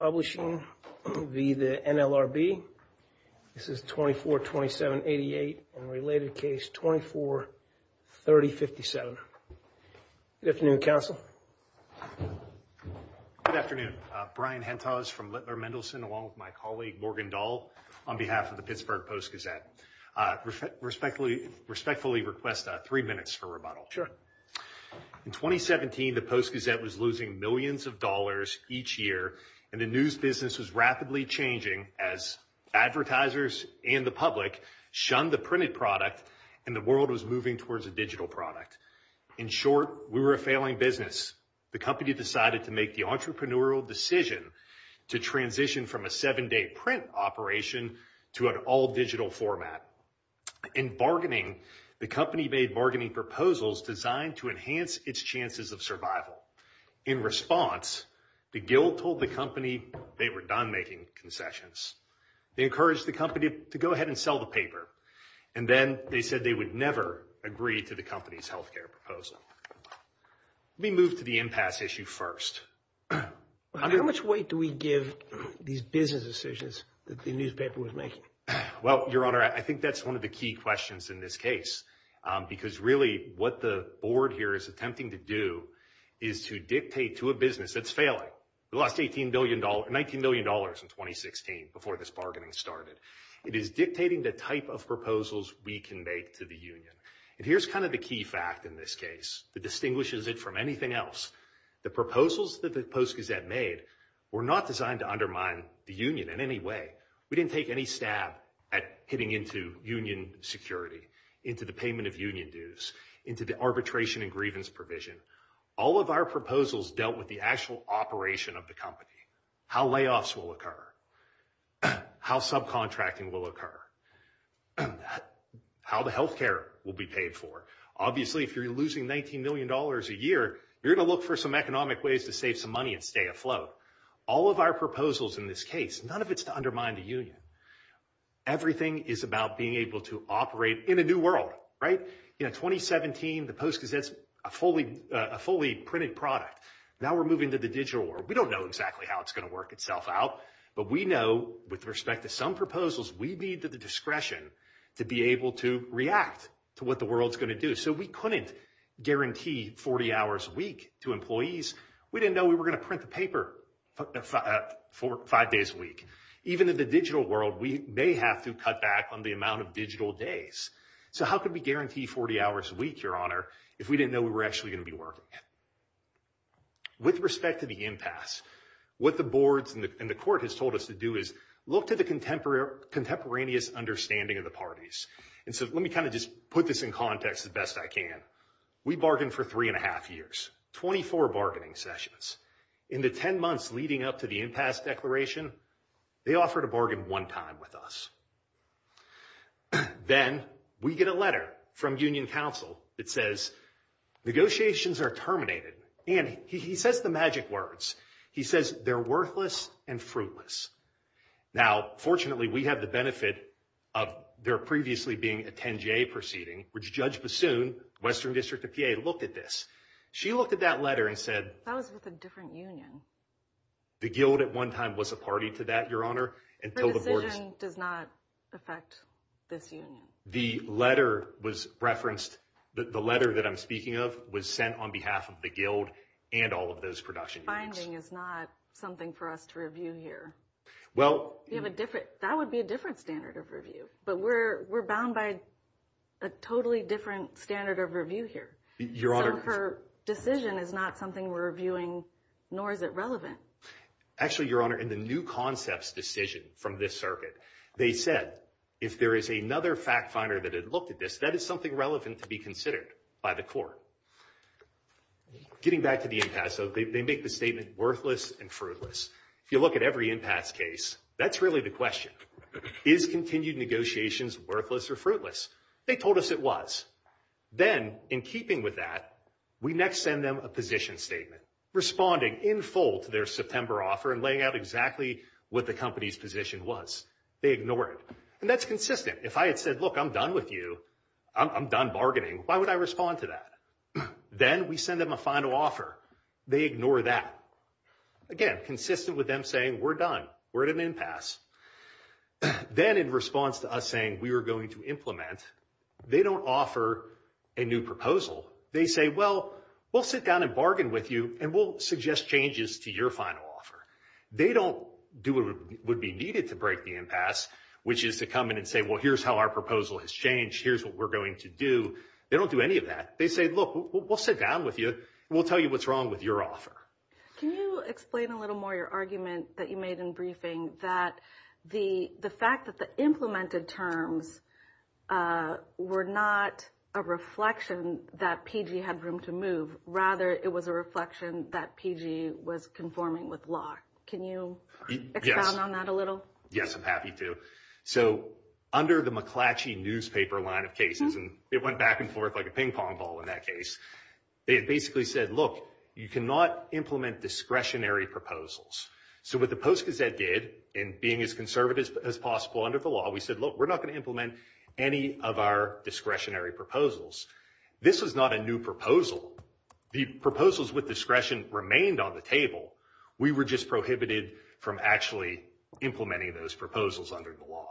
Publishing v. the NLRB. This is 24-27-88 and related case 24-30-57. Good afternoon, counsel. Good afternoon. Brian Hentos from Littler Mendelson along with my colleague Morgan Dahl on behalf of the Pittsburgh Post-Gazette. Respectfully request three minutes for rebuttal. Sure. In 2017, the Post-Gazette was losing millions of dollars each year and the news business was rapidly changing as advertisers and the public shunned the printed product and the world was moving towards a digital product. In short, we were a failing business. The company decided to make the entrepreneurial decision to transition from a seven-day print operation to an all-digital format. In bargaining, the company made bargaining proposals designed to enhance its chances of survival. In response, the guild told the company they were done making concessions. They encouraged the company to go ahead and sell the paper and then they said they would never agree to the company's health care proposal. We move to the impasse issue first. How much weight do we give these business decisions that the newspaper was making? Well, your honor, I think that's one of the key questions in this case because really what the board here is attempting to do is to dictate to a business that's failing. We lost $18 billion, $19 billion in 2016 before this bargaining started. It is dictating the type of proposals we can make to the union and here's kind of the key fact in this case that distinguishes it from anything else. The proposals that the Post-Gazette made were not designed to undermine the union in any way. We didn't take any stab at hitting into union security, into the payment of union dues, into the arbitration and grievance provision. All of our proposals dealt with the actual operation of the company, how layoffs will occur, how subcontracting will occur, how the health care will be paid for. Obviously, if you're losing $19 million a year, you're going to look for some economic ways to save some money and stay afloat. All of our proposals in this case, none of it's to undermine the union. Everything is about being able to operate in a new world. In 2017, the Post-Gazette's a fully printed product. Now we're moving to the digital world. We don't know exactly how it's going to work itself out, but we know with respect to some proposals, we need the discretion to be able to react to what the world's going to do. We couldn't guarantee 40 hours a week to employees. We didn't know we were going to print the paper for five days a week. Even in the digital world, we may have to cut back on the amount of digital days. So how can we guarantee 40 hours a week, your honor, if we didn't know we were actually going to be working? With respect to the impasse, what the boards and the court has told us to do is look to the contemporaneous understanding of the parties. And so let me kind of just put this in the best I can. We bargained for three and a half years, 24 bargaining sessions. In the 10 months leading up to the impasse declaration, they offered to bargain one time with us. Then we get a letter from union council that says, negotiations are terminated. And he says the magic words. He says, they're worthless and fruitless. Now, fortunately, we have the benefit of there previously being a 10-J proceeding, which Judge Bassoon, Western District of PA, looked at this. She looked at that letter and said- That was with a different union. The guild at one time was a party to that, your honor. The decision does not affect this union. The letter was referenced. The letter that I'm speaking of was sent on behalf of the guild and all of those production units. The finding is not something for us to review here. That would be a different standard of review. But we're bound by a totally different standard of review here. So her decision is not something we're reviewing, nor is it relevant. Actually, your honor, in the new concepts decision from this circuit, they said, if there is another fact finder that had looked at this, that is something relevant to be considered by the court. So getting back to the impasse, they make the statement worthless and fruitless. If you look at every impasse case, that's really the question. Is continued negotiations worthless or fruitless? They told us it was. Then, in keeping with that, we next send them a position statement, responding in full to their September offer and laying out exactly what the company's position was. They ignored it. And that's consistent. If I had said, look, I'm done with you, I'm done bargaining, why would I respond to that? Then we send them a final offer. They ignore that. Again, consistent with them saying, we're done. We're at an impasse. Then in response to us saying we were going to implement, they don't offer a new proposal. They say, well, we'll sit down and bargain with you and we'll suggest changes to your final offer. They don't do what would be needed to break the impasse, which is to come in and say, well, here's how our proposal has changed. Here's what we're going to do. They don't do any of that. They say, look, we'll sit down with you. We'll tell you what's wrong with your offer. Can you explain a little more your argument that you made in briefing that the fact that the implemented terms were not a reflection that PG had room to move. Rather, it was a reflection that PG was conforming with law. Can you expound on that a little? Yes, I'm happy to. Under the McClatchy newspaper line of cases, and it went back and forth like a ping pong ball in that case, they basically said, look, you cannot implement discretionary proposals. What the Post Gazette did, and being as conservative as possible under the law, we said, look, we're not going to implement any of our discretionary proposals. This was not a new proposal. The proposals with discretion remained on the table. We were just prohibited from actually implementing those proposals under the law.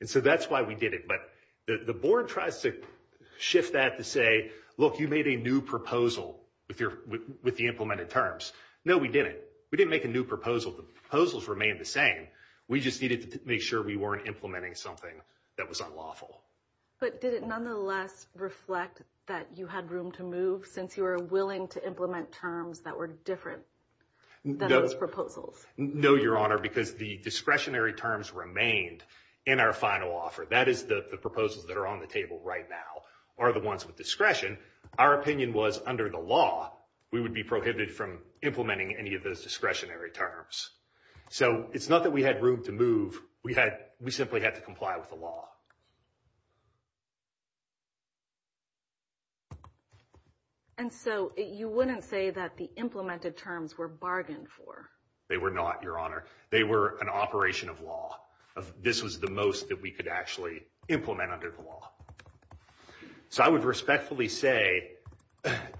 And so that's why we did it. But the board tries to shift that to say, look, you made a new proposal with the implemented terms. No, we didn't. We didn't make a new proposal. The proposals remained the same. We just needed to make sure we weren't implementing something that was unlawful. But did it nonetheless reflect that you had room to move since you were willing to implement terms that were different than those proposals? No, Your Honor, because the discretionary terms remained in our final offer. That is, the proposals that are on the table right now are the ones with discretion. Our opinion was, under the law, we would be prohibited from implementing any of those discretionary terms. So it's not that we had room to move. We simply had to comply with the law. And so you wouldn't say that the implemented terms were bargained for? They were not, Your Honor. They were an operation of law. This was the most that we could actually implement under the law. So I would respectfully say,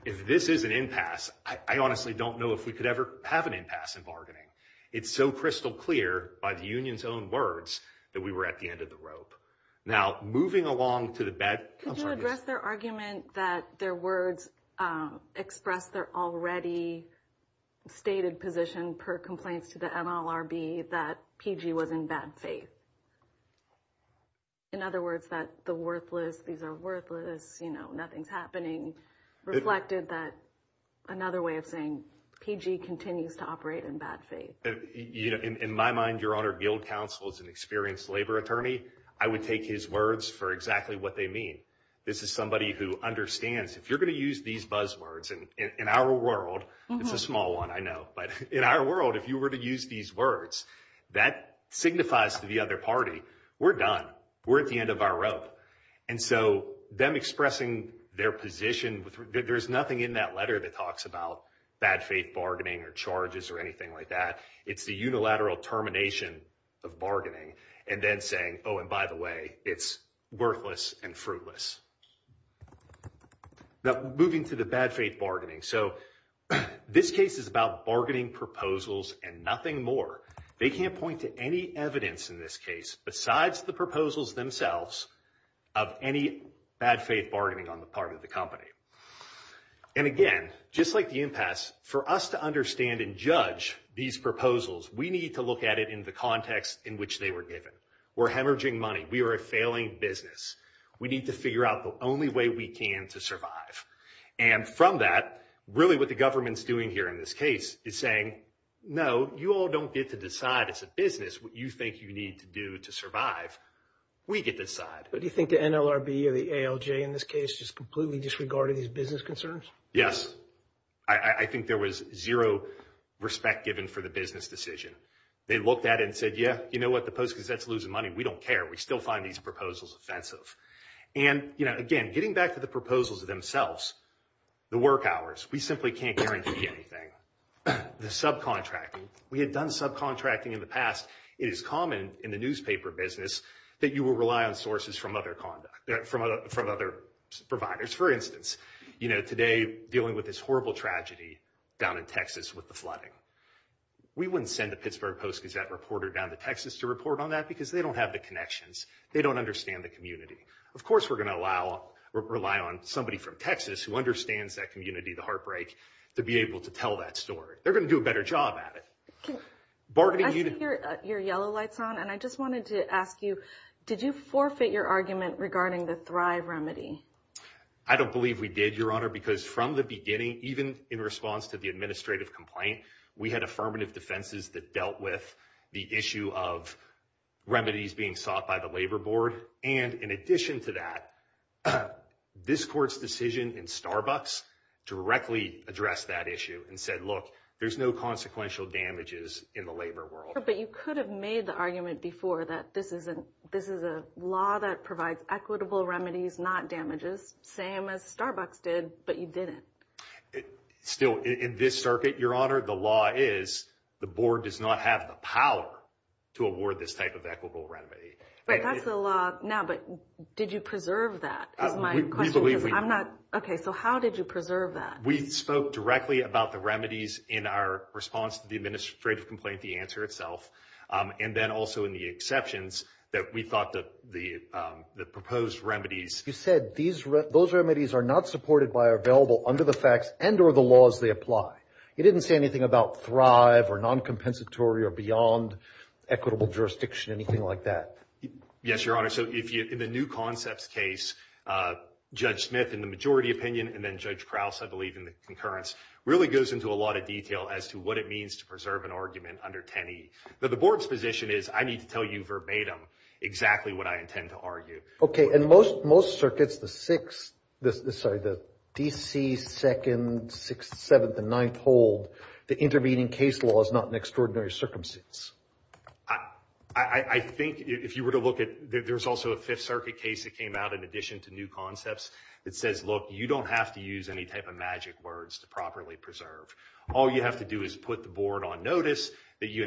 if this is an impasse, I honestly don't know if we could ever have an impasse in bargaining. It's so crystal clear by the union's own words that we were at the end of the rope. Now, moving along to the bad— Could you address their argument that their words express their already stated position, per complaints to the MLRB, that PG was in bad faith? In other words, that the worthless, these are worthless, nothing's happening, reflected that another way of saying PG continues to operate in bad faith. In my mind, Your Honor, Guild Counsel is an experienced labor attorney. I would take his words for exactly what they mean. This is somebody who understands, if you're going to use these buzzwords, and in our world, it's a small one, I know, but in our world, if you were to use these words, that signifies to the other party, we're done. We're at the end of our rope. And so them expressing their position, there's nothing in that letter that talks about bad faith bargaining or charges or anything like that. It's the unilateral termination of bargaining and then saying, oh, and by the way, it's worthless and fruitless. Now, moving to the bad faith bargaining. So this case is about bargaining proposals and nothing more. They can't point to any evidence in this case besides the proposals themselves of any bad faith bargaining on the part of the company. And again, just like the impasse, for us to understand and judge these proposals, we need to look at it in the context in which they were given. We're hemorrhaging money. We are a failing business. We need to figure out the only way we can to survive. And from that, really what the government's doing here in this case is saying, no, you all don't get to decide as a business what you think you need to do to survive. We get to decide. But do you think the NLRB or the ALJ in this case just completely disregarded these business concerns? Yes. I think there was zero respect given for the business decision. They looked at it and said, yeah, you know what? The Post-Gazette's losing money. We don't care. We still find these proposals offensive. And again, getting back to the proposals themselves, the work hours, we simply can't guarantee anything. The subcontracting, we had done subcontracting in the past. It is common in the newspaper business that you will rely on sources from other conduct, from other providers. For instance, today dealing with this horrible tragedy down in Texas with the Pittsburgh Post-Gazette reporter down to Texas to report on that because they don't have the connections. They don't understand the community. Of course, we're going to rely on somebody from Texas who understands that community, the heartbreak, to be able to tell that story. They're going to do a better job at it. I see your yellow lights on, and I just wanted to ask you, did you forfeit your argument regarding the Thrive remedy? I don't believe we did, Your Honor, because from the beginning, even in response to the administrative complaint, we had affirmative defenses that dealt with the issue of remedies being sought by the labor board. And in addition to that, this court's decision in Starbucks directly addressed that issue and said, look, there's no consequential damages in the labor world. But you could have made the argument before that this is a law that provides equitable remedies, not damages, same as Starbucks did, but you didn't. Still, in this circuit, Your Honor, the law is, the board does not have the power to award this type of equitable remedy. Right, that's the law now, but did you preserve that is my question. We believe we did. Okay, so how did you preserve that? We spoke directly about the remedies in our response to the administrative complaint, the answer itself, and then also in the exceptions that we thought that the proposed remedies... You said those remedies are not supported by or available under the facts and or the laws they apply. You didn't say anything about thrive or non-compensatory or beyond equitable jurisdiction, anything like that. Yes, Your Honor, so in the new concepts case, Judge Smith in the majority opinion and then Judge Krause, I believe, in the concurrence, really goes into a lot of detail as to what it means to preserve an argument under 10e. But the board's position is I need to tell you verbatim exactly what I intend to argue. Okay, and most circuits, the 6th, sorry, the D.C. 2nd, 6th, 7th, and 9th hold the intervening case law is not an extraordinary circumstance. I think if you were to look at, there's also a 5th Circuit case that came out in addition to new concepts that says, look, you don't have to use any type of magic words to properly preserve. All you have to do is put the board on notice that you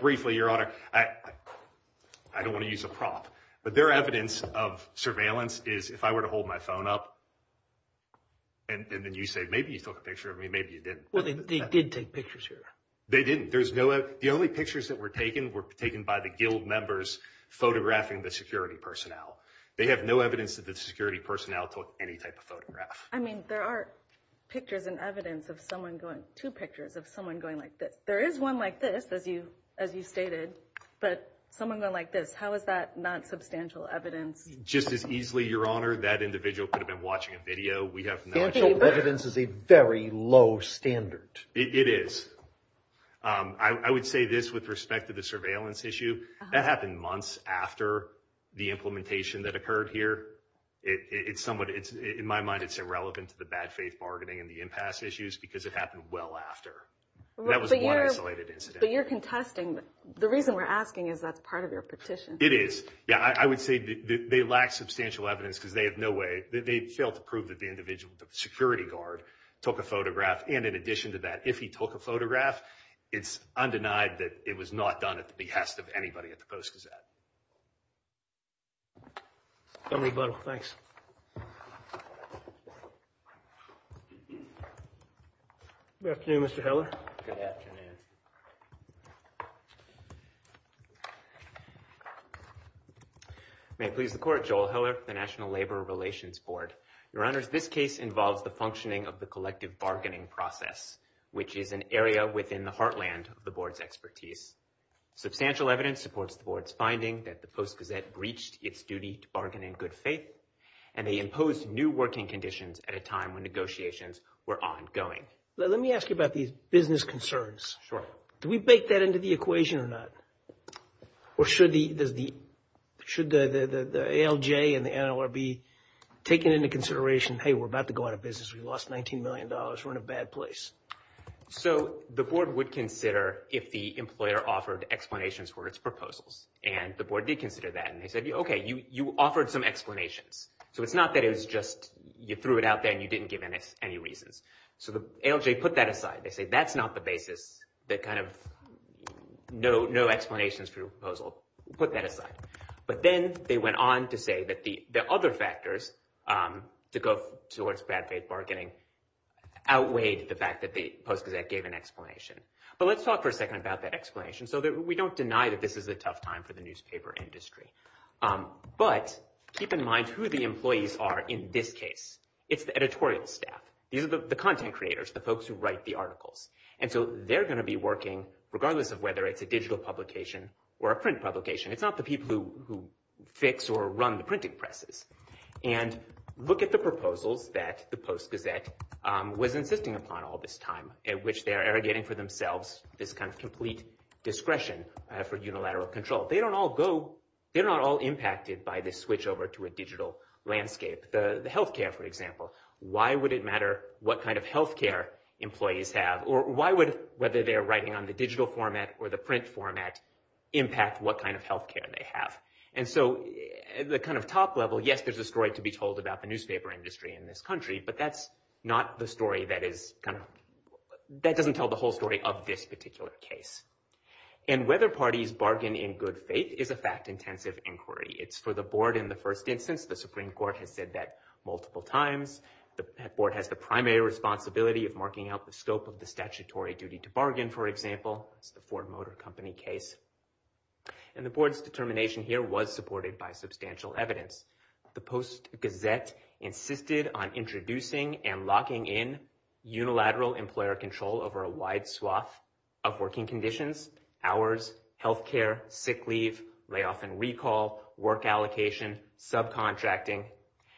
briefly, Your Honor, I don't want to use a prop, but their evidence of surveillance is if I were to hold my phone up and then you say, maybe you took a picture of me, maybe you didn't. Well, they did take pictures here. They didn't. There's no, the only pictures that were taken were taken by the guild members photographing the security personnel. They have no evidence that the security personnel took any type of photograph. I mean, there are pictures and evidence of someone going, two pictures of someone going like this. There is one like this, as you stated, but someone going like this. How is that not substantial evidence? Just as easily, Your Honor, that individual could have been watching a video. We have no... Substantial evidence is a very low standard. It is. I would say this with respect to the surveillance issue, that happened months after the implementation that occurred here. It's somewhat, in my mind, it's irrelevant to the bad after. That was one isolated incident. But you're contesting, the reason we're asking is that's part of your petition. It is. Yeah, I would say that they lack substantial evidence because they have no way, they failed to prove that the individual, the security guard, took a photograph. And in addition to that, if he took a photograph, it's undenied that it was not done at the behest of anybody at the Post-Gazette. Assembly member, thanks. Good afternoon, Mr. Heller. Good afternoon. May it please the Court, Joel Heller, the National Labor Relations Board. Your Honors, this case involves the functioning of the collective bargaining process, which is an area within the heartland of the Board's expertise. Substantial evidence supports the Board's finding that the Post-Gazette breached its duty to bargain in good faith, and they imposed new working conditions at a time when negotiations were ongoing. Let me ask you about these business concerns. Sure. Do we bake that into the equation or not? Or should the ALJ and the NLRB take it into consideration, hey, we're about to go out of business. We lost $19 million. We're in a bad place. So the Board would consider if the employer offered explanations for its proposals. And the Board did consider that. And they said, okay, you offered some explanations. So it's not that it was just you threw it out there and you didn't give any reasons. So the ALJ put that aside. They say that's not the basis. That kind of no explanations for your proposal. Put that aside. But then they went on to say that the other factors to go towards bad faith bargaining outweighed the fact that the Post-Gazette gave an explanation. But let's talk for a second about that explanation so that we don't deny that this is a tough time for the newspaper industry. But keep in mind who the employees are in this case. It's the editorial staff. These are the content creators, the folks who write the articles. And so they're going to be working, regardless of whether it's a digital publication or a print publication. It's not the people who fix or run the printing presses. And look at the proposals that the Post-Gazette was insisting upon all this time at which they are irrigating for themselves this kind of complete discretion for unilateral control. They're not all impacted by this switch over to a digital landscape. The healthcare, for example. Why would it matter what kind of healthcare employees have? Or why would whether they're writing on the digital format or the print format impact what kind of healthcare they have? And so the kind of top level, yes, there's a story to be told about the newspaper industry in this country. But that's not the story that is kind of, that doesn't tell the whole story of this particular case. And whether parties bargain in good faith is a fact-intensive inquiry. It's for the board in the first instance. The Supreme Court has said that multiple times. The board has the primary responsibility of marking out the scope of the statutory duty to bargain, for example. It's the substantial evidence. The Post-Gazette insisted on introducing and locking in unilateral employer control over a wide swath of working conditions, hours, healthcare, sick leave, layoff and recall, work allocation, subcontracting.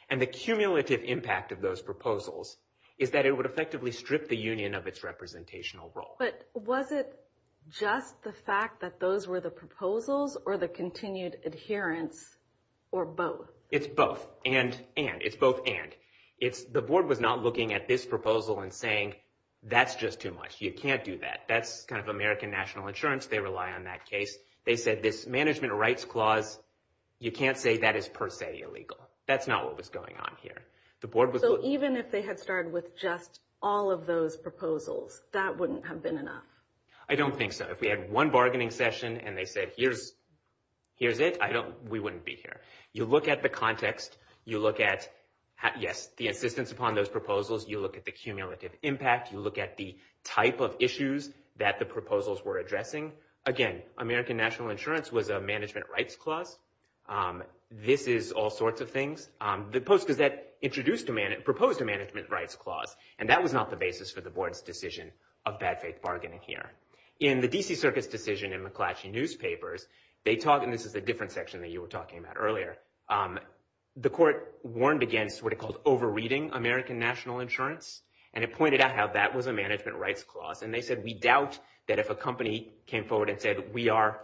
And the cumulative impact of those proposals is that it would effectively strip the union of its representational role. But was it just the fact that those were the proposals or the continued adherence or both? It's both. And, and. It's both and. The board was not looking at this proposal and saying, that's just too much. You can't do that. That's kind of American national insurance. They rely on that case. They said this management rights clause, you can't say that is per se illegal. That's not what was going on here. So even if they had started with just all of those proposals, that wouldn't have been enough? I don't think so. If we had one bargaining session and they said, here's, here's it. I don't, we wouldn't be here. You look at the context. You look at, yes, the insistence upon those proposals. You look at the cumulative impact. You look at the type of issues that the proposals were addressing. Again, American national insurance was a management rights clause. This is all sorts of things. The Post-Gazette introduced a man, proposed a management rights clause. And that was not the basis for the board's decision of bad faith bargaining here. In the D.C. Circuit's decision in McClatchy Newspapers, they talk, and this is a different section that you were talking about earlier. The court warned against what it called overreading American national insurance. And it pointed out how that was a management rights clause. And they said, we doubt that if a company came forward and said, we are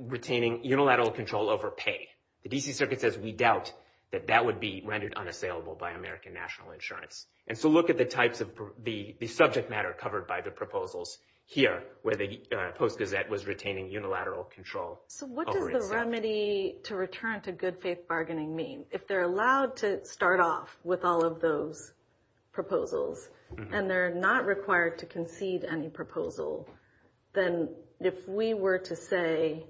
retaining unilateral control over pay, the D.C. Circuit says, we doubt that that would be rendered unassailable by American national insurance. And so look at the types of the subject matter covered by the proposals here, where the Post-Gazette was retaining unilateral control. So what does the remedy to return to good faith bargaining mean? If they're allowed to start off with all of those proposals and they're not required to concede any proposal, then if we were to say,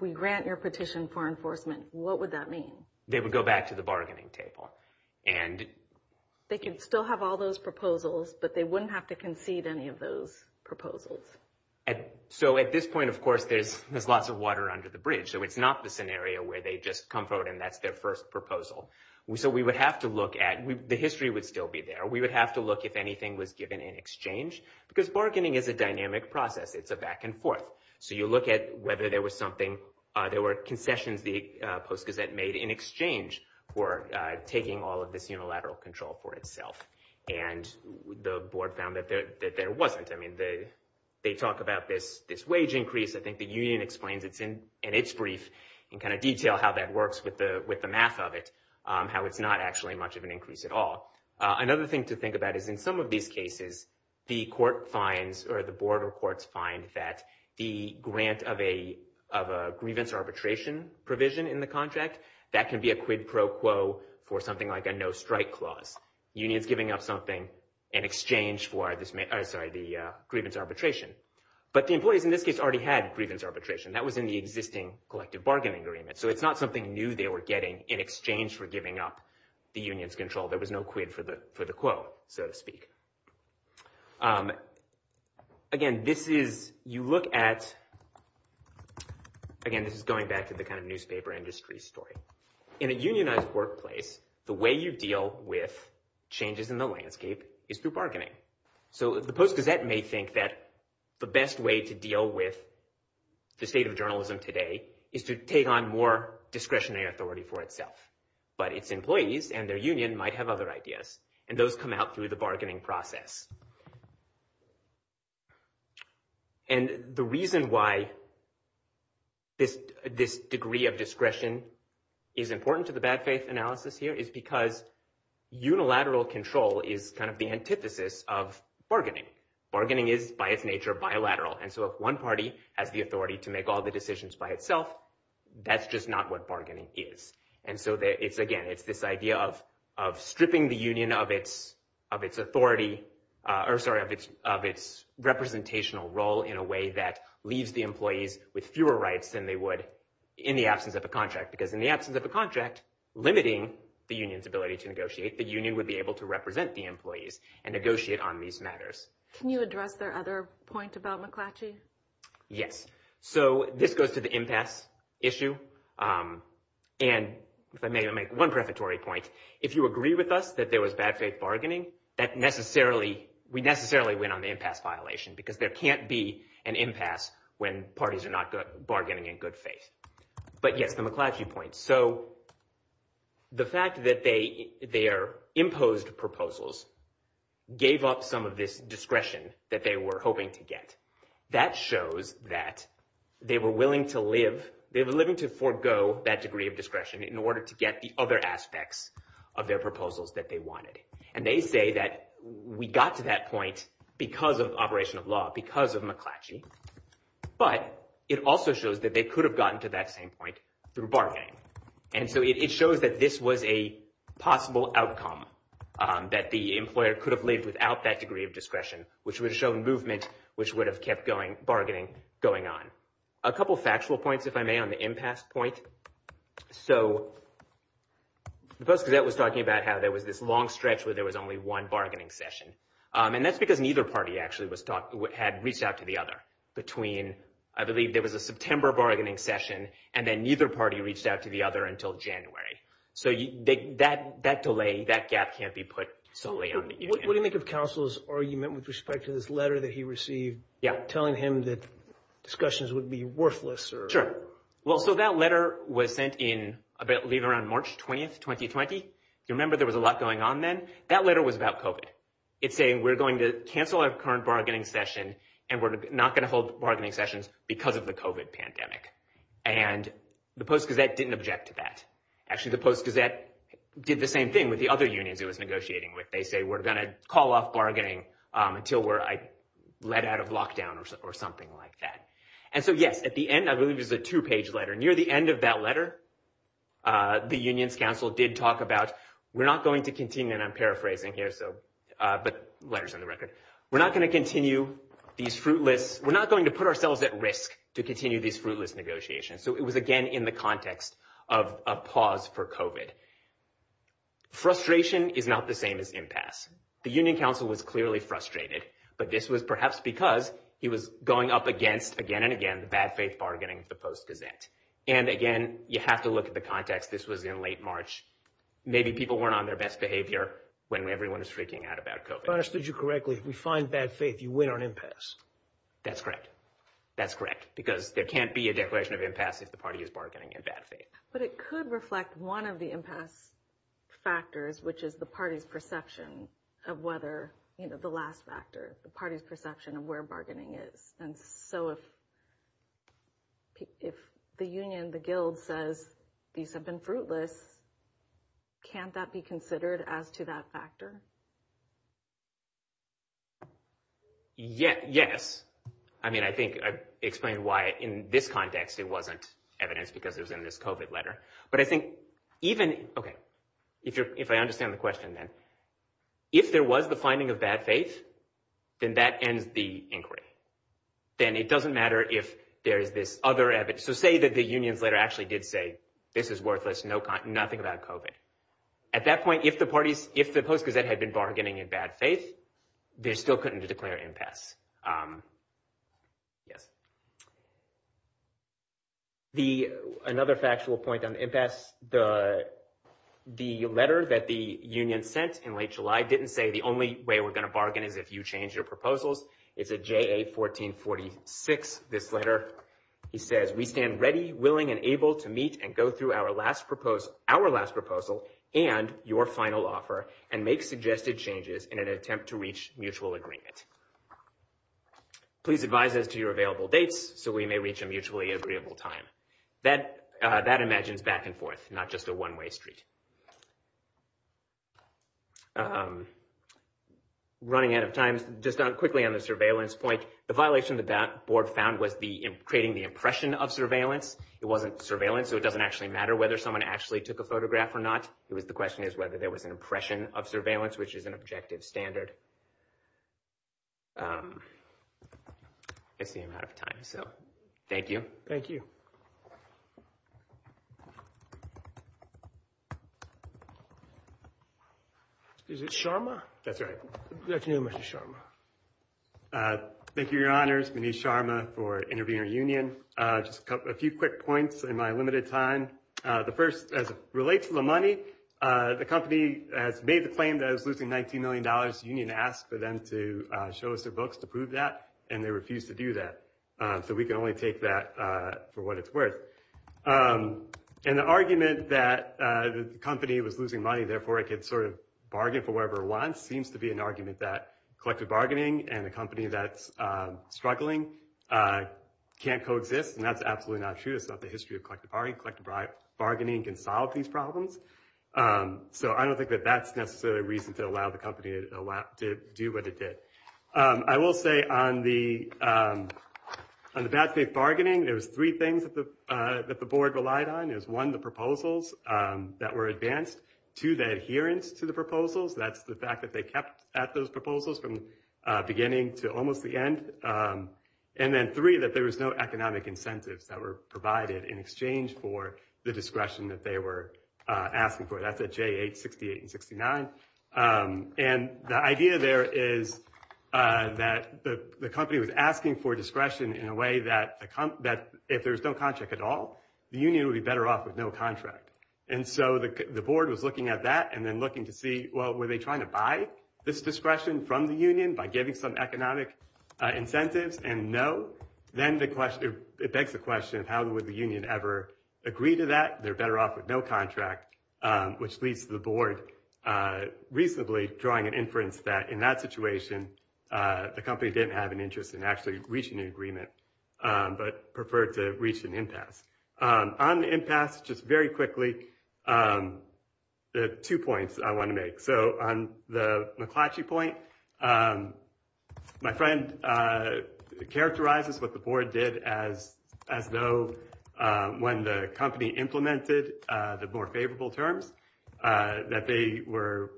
we grant your petition for enforcement, what would that mean? They would go back to the bargaining table. And they can still have all those proposals, but they wouldn't have to concede any of those proposals. So at this point, of course, there's lots of water under the bridge. So it's not the scenario where they just come forward and that's their first proposal. So we would have to look at, the history would still be there. We would have to look if anything was given in exchange, because bargaining is a dynamic process. It's a back and forth. So you look at whether there were concessions the Post-Gazette made in exchange for taking all of this unilateral control for itself. And the board found that there wasn't. I mean, they talk about this wage increase. I think the union explains it in its brief and detail how that works with the math of it, how it's not actually much of an increase at all. Another thing to think about is in some of these cases, the court finds or the board or courts find that the grant of a grievance arbitration provision in the contract, that can be a quid pro quo for something like a no-strike clause. Union's giving up something in exchange for the grievance arbitration. But the employees in this case already had grievance arbitration. That was in the existing collective bargaining agreement. So it's not something new they were getting in exchange for giving up the union's control. There was no quid for the quo, so to speak. Again, this is, you look at, again, this is going back to the kind of newspaper industry story. In a unionized workplace, the way you deal with changes in the landscape is through bargaining. So the Post-Gazette may think that the best way to deal with the state of journalism today is to take on more discretionary authority for itself. But its employees and their union might have other ideas. And those come out through the bargaining process. And the reason why this degree of discretion is important to the bad faith analysis here is because unilateral control is kind of the antithesis of bargaining. Bargaining is by its nature bilateral. And so if one party has the authority to make all the decisions by itself, that's just not what bargaining is. And so it's, again, it's this idea of stripping the union of its authority, or sorry, of its representational role in a way that leaves the employees with fewer rights than they would in the absence of a contract. Because in the absence of a contract limiting the union's ability to negotiate, the union would be able to represent the employees and negotiate on these matters. Can you address their other point about McClatchy? Yes. So this goes to the impasse issue. And if I may make one prefatory point, if you agree with us that there was bad faith bargaining, we necessarily win on the impasse violation, because there can't be an impasse when parties are not bargaining in good faith. But yes, the McClatchy point. So the fact that their imposed proposals gave up some of this discretion that they were hoping to get, that shows that they were willing to live, they were willing to forgo that degree of discretion in order to get the other aspects of their proposals that they wanted. And they say that we got to that point because of operation of law, because of McClatchy. But it also shows that they could have gotten to that same point through bargaining. And so it shows that this was a possible outcome, that the employer could have lived without that degree of discretion, which would have shown movement, which would have kept bargaining going on. A couple of factual points, if I may, on the impasse point. So the Post-Gazette was talking about how there was this long stretch where there was only one bargaining session. And that's because neither party actually had reached out to the other between, I believe there was a September bargaining session, and then neither party reached out to the other until January. So that delay, that gap can't be put solely on the union. What do you think of Counsel's argument with respect to this letter that he received, telling him that discussions would be worthless? Sure. Well, so that letter was sent in, I believe, around March 20th, 2020. If you remember, there was a lot going on then. That letter was about COVID. It's saying we're going to cancel our current bargaining session, and we're not going to hold bargaining sessions because of the COVID pandemic. And the Post-Gazette didn't object to that. Actually, the Post-Gazette did the same thing with the other unions it was negotiating with. They say, we're going to call off bargaining until we're let out of lockdown or something like that. And so, yes, at the end, I believe, there's a two-page letter. Near the end of that letter, the Unions Council did talk about, we're not going to continue, and I'm paraphrasing here, but letters on the record, we're not going to continue these fruitless, we're not going to put ourselves at risk to continue these fruitless negotiations. So it was, again, in the context of a pause for COVID. Frustration is not the same as impasse. The Union Council was clearly frustrated, but this was perhaps because he was going up against, again and again, the bad faith bargaining of the Post-Gazette. And again, you have to look at the context. This was in late March. Maybe people weren't on their best behavior when everyone was freaking out about COVID. If I understood you correctly, we find bad faith, you win on impasse. That's correct. That's correct, because there can't be a declaration of impasse if the party is bargaining in bad faith. But it could reflect one of the impasse factors, which is the party's perception of whether, the last factor, the party's perception of where bargaining is. And so if the Union, the Guild says these have been fruitless, can't that be considered as to that factor? Yes. I mean, I think I've explained why in this context, it wasn't evidence because it was in this COVID letter. But I think even, okay, if I understand the question then, if there was the finding of bad faith, then that ends the inquiry. Then it doesn't matter if there is this other So say that the Union's letter actually did say, this is worthless, nothing about COVID. At that point, if the Post-Gazette had been bargaining in bad faith, they still couldn't declare impasse. Yes. Another factual point on impasse, the letter that the Union sent in late July didn't say, the only way we're going to bargain is if you change your proposals. It's a JA-1446, this He says, we stand ready, willing, and able to meet and go through our last proposal and your final offer and make suggested changes in an attempt to reach mutual agreement. Please advise us to your available dates so we may reach a mutually agreeable time. That imagines back and forth, not just a one-way street. Running out of time, just quickly on the surveillance point, the violation that that board found was creating the impression of surveillance. It wasn't surveillance, so it doesn't actually matter whether someone actually took a photograph or not. The question is whether there was an impression of surveillance, which is an objective standard. I see I'm out of time, so thank you. Thank you. Is it Sharma? That's right. Good afternoon, Mr. Sharma. Thank you, your honors. Manish Sharma for Intervener Union. Just a few quick points in my limited time. The first, as it relates to the money, the company has made the claim that it was losing $19 million. The Union asked for them to show us their books to prove that, and they refused to do that. So we can only take that for what it's worth. And the argument that the company was losing money, therefore it could sort of bargain for whatever it wants, seems to be an argument that collective bargaining and a company that's struggling can't coexist. And that's absolutely not true. It's not the history of collective bargaining. Collective bargaining can solve these problems. So I don't think that that's a reason to allow the company to do what it did. I will say on the bad faith bargaining, there was three things that the board relied on. One, the proposals that were advanced. Two, the adherence to the proposals. That's the fact that they kept at those proposals from beginning to almost the end. And then three, that there was no economic incentives that were provided in exchange for the discretion that they were asking for. That's at J8, 68, and 69. And the idea there is that the company was asking for discretion in a way that if there's no contract at all, the Union would be better off with no contract. And so the board was looking at that and then looking to see, well, were they trying to buy this discretion from the Union by giving some economic incentives? And no. Then it begs the question of how would the Union ever agree to that? They're better off with no contract, which leads to the board reasonably drawing an inference that in that situation, the company didn't have an interest in actually reaching an agreement, but preferred to reach an impasse. On the impasse, just very quickly, there are two points I want to make. So on the McClatchy point, my friend characterizes what the board did as though when the company implemented the more favorable terms, that they were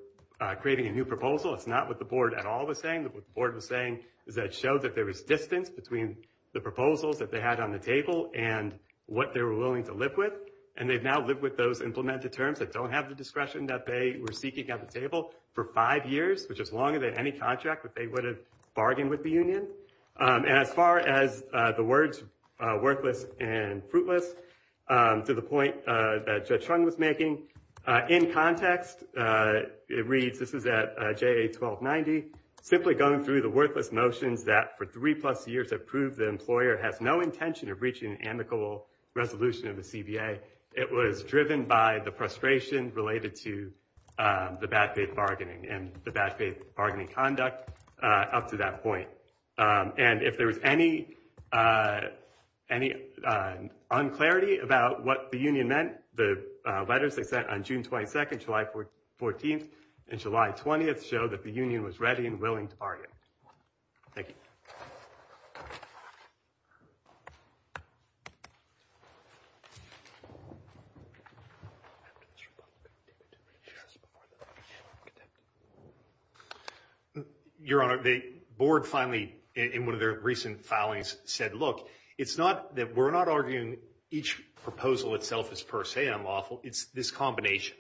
creating a new proposal. It's not what the board at all was saying. What the board was saying is that it showed that there was distance between the proposals that had on the table and what they were willing to live with. And they've now lived with those implemented terms that don't have the discretion that they were seeking at the table for five years, which is longer than any contract that they would have bargained with the Union. And as far as the words worthless and fruitless, to the point that Judge Chung was making in context, it reads, this is at JA 1290, simply going through the worthless notions that for three plus years have the employer has no intention of reaching an amicable resolution of the CBA. It was driven by the frustration related to the bad faith bargaining and the bad faith bargaining conduct up to that point. And if there was any unclarity about what the Union meant, the letters they sent on June 22nd, July 14th, and July 20th show that the Union was ready and willing to bargain. Thank you. Your Honor, the board finally in one of their recent filings said, look, it's not that we're not arguing each proposal itself is per se unlawful, it's this combination.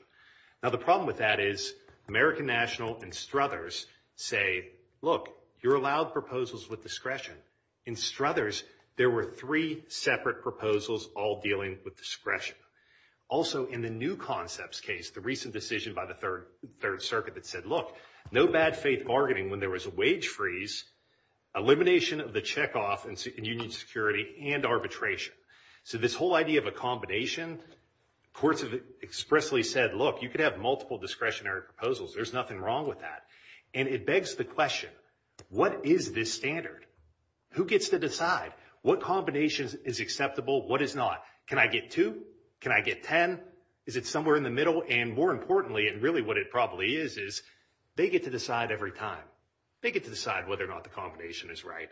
Now the problem with that is American National and Struthers say, look, you're allowed proposals with discretion. In Struthers, there were three separate proposals all dealing with discretion. Also in the new concepts case, the recent decision by the Third Circuit that said, look, no bad faith bargaining when there was a wage freeze, elimination of the checkoff in Union security and arbitration. So this whole idea of a combination, courts have expressly said, look, you could have multiple discretionary proposals. There's nothing wrong with that. And it begs the question, what is this standard? Who gets to decide what combination is acceptable? What is not? Can I get two? Can I get 10? Is it somewhere in the middle? And more importantly, and really what it probably is, is they get to decide every time. They get to decide whether or not the combination is right.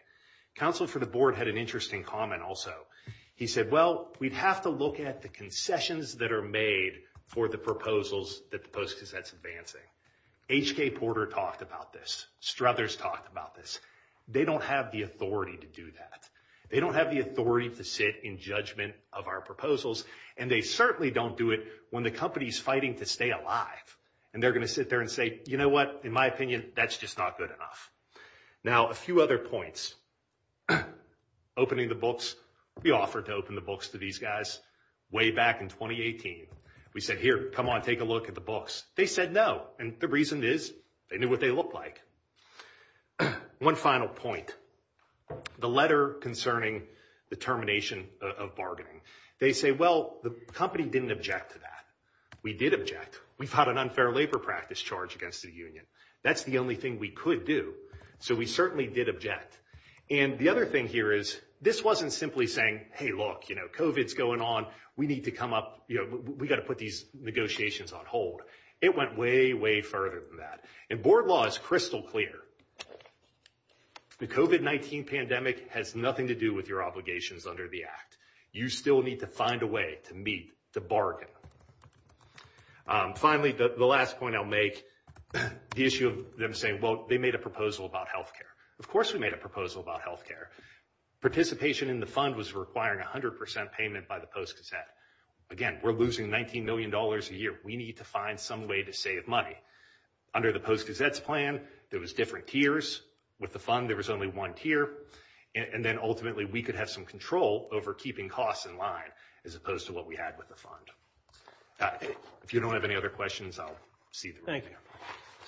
Counsel for the board had an interesting comment also. He said, well, we'd have to look at the concessions that are made for the proposals that the Post-Cassette's advancing. H.K. Porter talked about this. Struthers talked about this. They don't have the authority to do that. They don't have the authority to sit in judgment of our proposals. And they certainly don't do it when the company's fighting to stay alive. And they're going to sit there and say, you know what? In my opinion, that's just not good enough. Now, a few other points. Opening the books. We offered to open the books to these guys way back in 2018. We said, here, come on, take a look at the books. They said no. And the reason is they knew what they looked like. One final point. The letter concerning the termination of bargaining. They say, well, the company didn't object to that. We did object. We fought an unfair labor practice charge against the union. That's the only thing we could do. So we certainly did object. And the other thing here is this wasn't simply saying, hey, look, you know, COVID's going on. We need to come up. We've got to put these negotiations on hold. It went way, way further than that. And board law is crystal clear. The COVID-19 pandemic has nothing to do with your obligations under the act. You still need to find a way to meet the bargain. Finally, the last point I'll make, the issue of them saying, well, they made a proposal about health care. Of course we made a proposal about health care. Participation in the fund was requiring 100 percent payment by the Post-Gazette. Again, we're losing $19 million a year. We need to find some way to save money. Under the Post-Gazette's plan, there was different tiers. With the fund, there was only one tier. And then ultimately, we could have some control over keeping costs in line as opposed to what we with the fund. If you don't have any other questions, I'll see them. Thank you.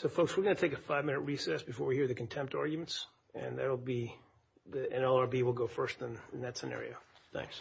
So, folks, we're going to take a five-minute recess before we hear the contempt arguments. And that'll be the NLRB will go first in that scenario. Thanks.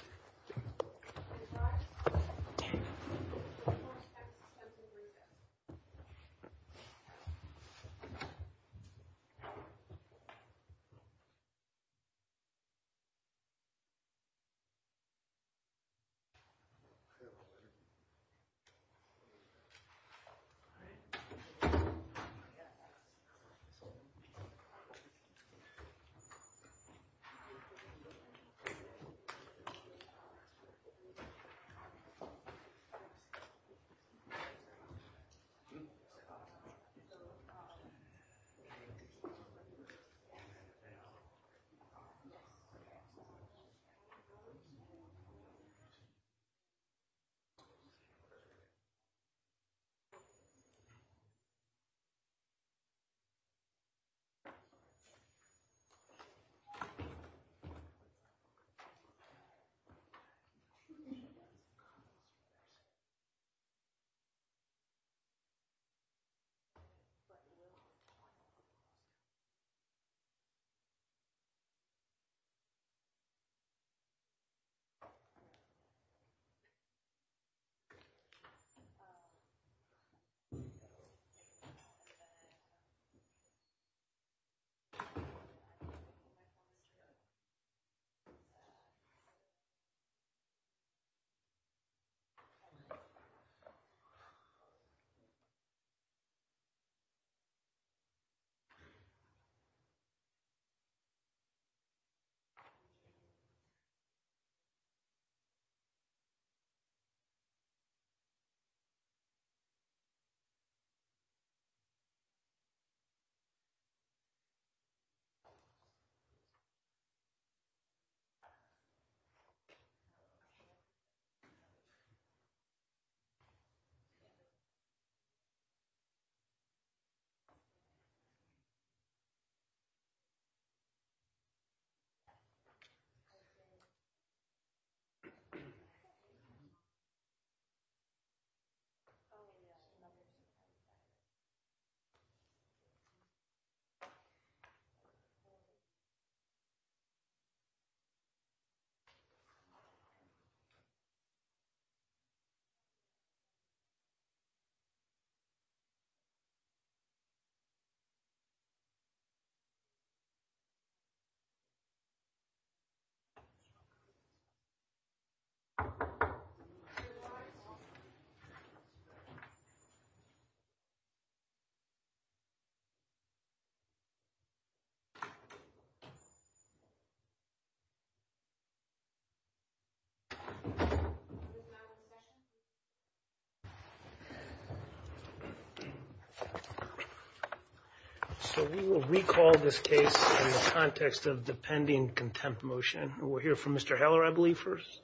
So, we will recall this case in the context of the pending contempt motion. We'll hear from Mr. Smith.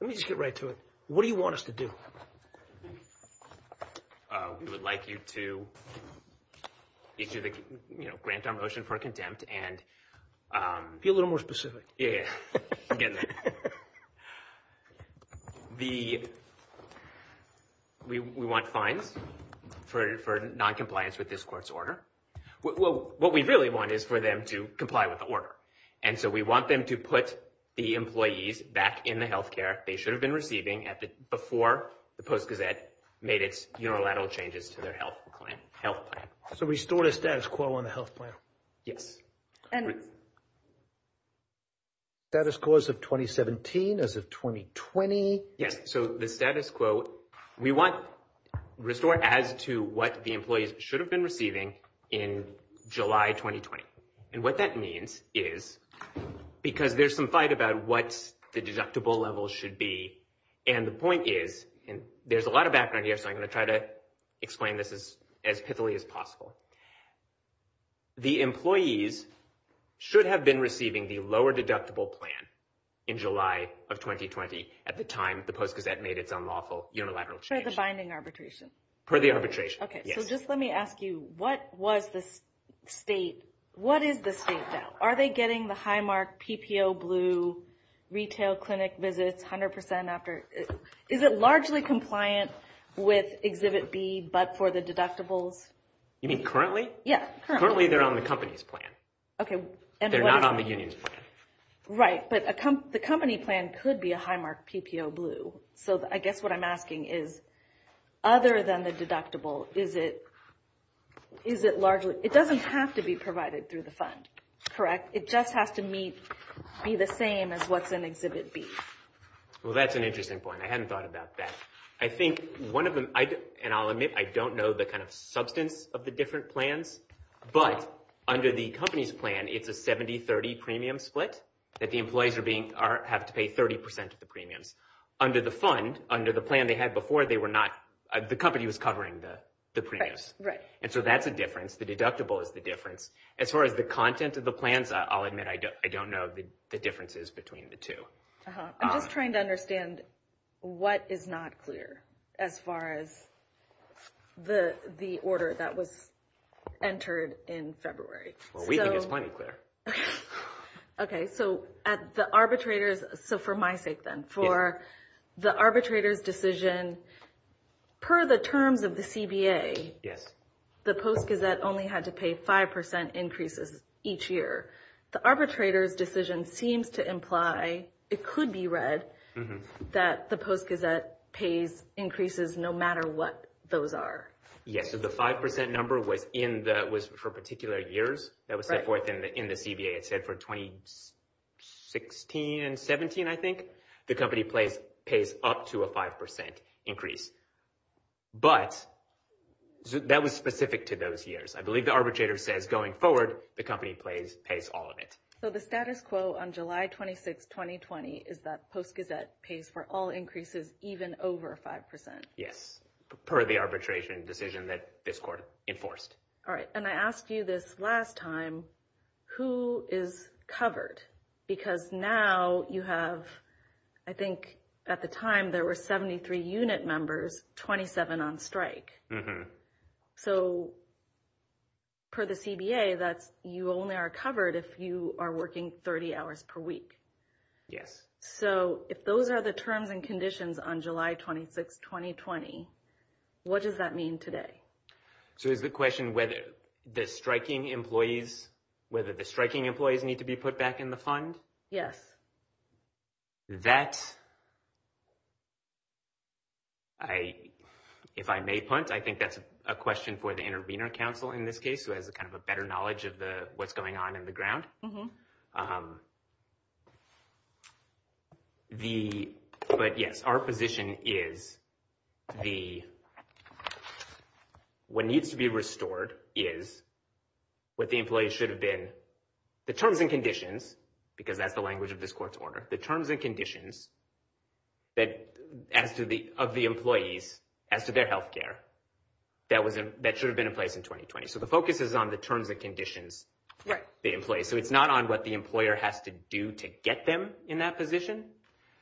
Let me just get right to it. What do you want us to do? We would like you to grant our motion for contempt and... Be a little more specific. Yeah. I'm getting there. We want fines for noncompliance with this court's order. What we really want is for them to comply with the order. And so, we want them to put the employees back in the health care they should have been receiving before the Post-Gazette made its unilateral changes to their health plan. So, restore the status quo on the health plan? Yes. And status quo as of 2017, as of 2020? Yes. So, the status quo, we want restore as to what the employees should have been receiving in July 2020. And what that means is, because there's some fight about what the deductible level should be. And the point is, and there's a lot of background here, so I'm going to try to explain this as pithily as possible. The employees should have been receiving the lower deductible plan in July of 2020, at the time the Post-Gazette made its unlawful unilateral change. Per the binding arbitration? Per the arbitration, yes. Okay. So, just let me ask you, what was the state... What is the state now? Are they getting the high mark, PPO blue, retail clinic visits, 100% after... Is it largely compliant with Exhibit B, but for the deductibles? You mean currently? Yeah. Currently, they're on the company's plan. Okay. They're not on the union's plan. Right. But the company plan could be a high mark PPO blue. So, I guess what I'm asking is, other than the deductible, is it largely... It doesn't have to be provided through the fund, correct? It just has to be the same as what's in Exhibit B. Well, that's an interesting point. I hadn't thought about that. I think one of them... And I'll admit, I don't know the kind of substance of the different plans, but under the company's plan, it's a 70-30 premium split, that the employees have to pay 30% of the premiums. Under the fund, under the plan they had before, they were not... The company was covering the premiums. Right. And so, that's a difference. The deductible is the difference. As far as the content of the plans, I'll admit I don't know the differences between the two. I'm just trying to understand what is not clear as far as the order that was entered in February. Well, we think it's plenty clear. Okay. So, for my sake then, for the arbitrator's decision, per the terms of the CBA, the Post Gazette only had to pay 5% increases each year. The arbitrator's decision seems to imply, it could be read, that the Post Gazette pays increases no matter what those are. Yes. So, the 5% number was for particular years that was set forth in the CBA. It said for 2016, 17, I think, the company pays up to a 5% increase. But that was specific to those years. I believe the arbitrator says going forward, the company pays all of it. So, the status quo on July 26, 2020 is that Post Gazette pays for all increases even over 5%. Yes. Per the arbitration decision that this court enforced. All right. And I asked you this last time, who is covered? Because now you have, I think, at the time, there were 73 unit members, 27 on strike. So, per the CBA, you only are covered if you are working 30 hours per week. Yes. So, if those are the terms and conditions on July 26, 2020, what does that mean today? So, is the question whether the striking employees need to be put back in the fund? Yes. That, if I may punt, I think that's a question for the intervener counsel in this case, who has kind of a better knowledge of what's going on in the ground. But yes, our position is what needs to be restored is what the employees should have been, the terms and conditions, because that's the language of this court's order, the terms and conditions of the employees as to their health care that should have been in place in 2020. So, the focus is on the terms and conditions. Right. The employees. So, it's not on what the employer has to do to get them in that position.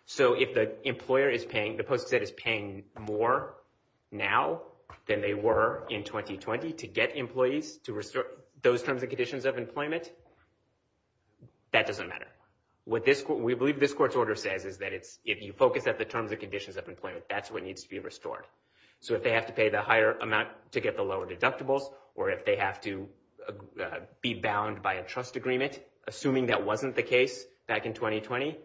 So, if the employer is paying, the Post Gazette is paying more now than they were in 2020 to get employees to restore those terms and conditions of employment, that doesn't matter. We believe this court's order says is that if you focus at the terms and conditions of employment, that's what needs to be restored. So, if they have to pay the higher amount to get the lower deductibles or if they have to be bound by a trust agreement, assuming that wasn't the case back in 2020,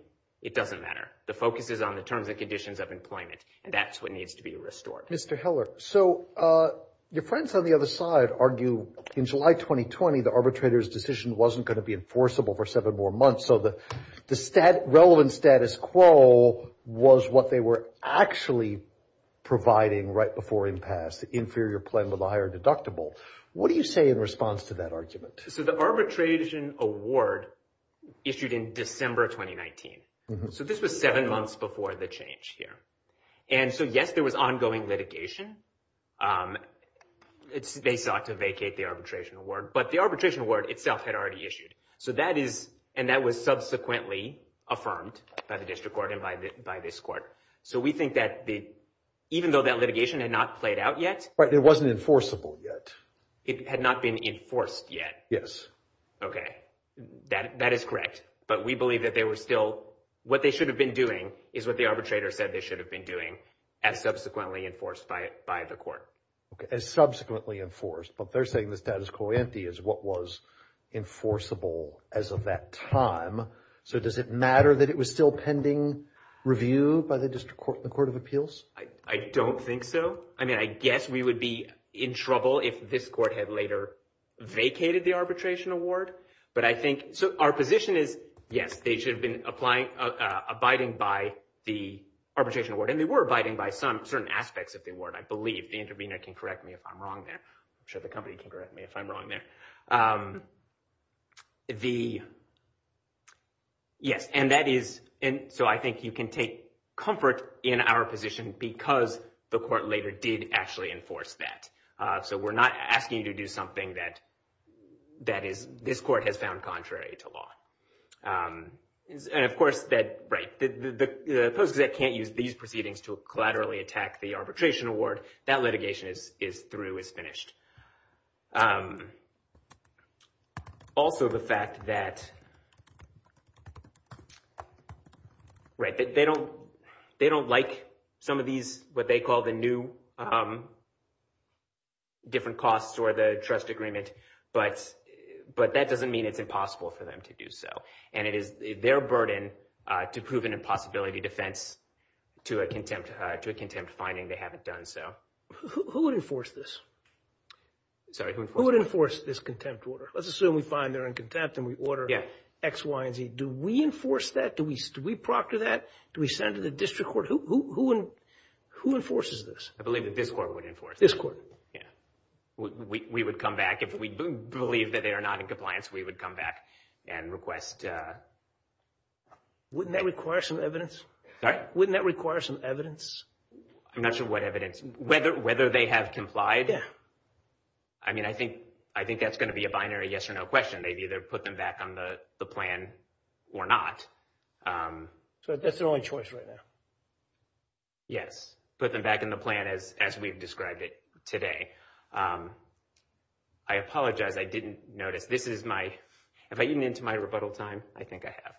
it doesn't matter. The focus is on the terms and conditions of employment and that's what needs to be restored. Mr. Heller. So, your friends on the other side argue in July 2020, the arbitrator's decision wasn't going to be enforceable for seven more months. So, the relevant status quo was what they were actually providing right before impasse, the inferior plan with the higher deductible. What do you say in response to that argument? So, the arbitration award issued in December 2019. So, this was seven months before the change here. And so, yes, there was ongoing litigation. They sought to vacate the arbitration award, but the arbitration award itself had already issued. So, that is, and that was subsequently affirmed by the district court and by this court. So, we think that even though that litigation had not played out yet. But it wasn't enforceable yet. It had not been enforced yet. Yes. Okay. That is correct. But we believe that they were still, what they should have been doing is what the arbitrator said they should have been doing as subsequently enforced by the court. Okay. As subsequently enforced. But they're saying the status quo empty is what was enforceable as of that time. So, does it matter that it was still pending review by the district court and the court of appeals? I don't think so. I mean, I guess we would be in trouble if this court had later vacated the arbitration award. But I think, so our position is, yes, they should have been abiding by the arbitration award. And they were abiding by some certain aspects of the award, I believe. The intervener can correct me if I'm wrong there. I'm sure the company can correct me if I'm wrong there. Yes. And that is, so I think you can take comfort in our position because the court later did actually enforce that. So, we're not asking you to do something that that is, this court has found contrary to law. And of course that, right, the post-exec can't use these proceedings to collaterally attack the arbitration award. That litigation is through, is finished. Also, the fact that, right, that they don't like some of these, what they call the new different costs or the trust agreement. But that doesn't mean it's impossible for them to do so. And it is their burden to prove an impossibility defense to a contempt finding they haven't done so. Who would enforce this? Sorry, who would enforce this? Who would enforce this contempt order? Let's assume we find they're in contempt and we order X, Y, and Z. Do we enforce that? Do we proctor that? Do we send it to the district court? Who enforces this? I believe that this court would enforce. This court? Yeah. We would come back if we believe that they are not in compliance. We would come back and request. Wouldn't that require some evidence? Sorry? Wouldn't that require some evidence? I'm not sure what evidence, whether they have complied. I mean, I think that's going to be a binary yes or no question. They've either put them back on the plan or not. So that's their only choice right now? Yes. Put them back in the plan as we've described it today. I apologize. I didn't notice. This is my, if I even into my rebuttal time, I think I have.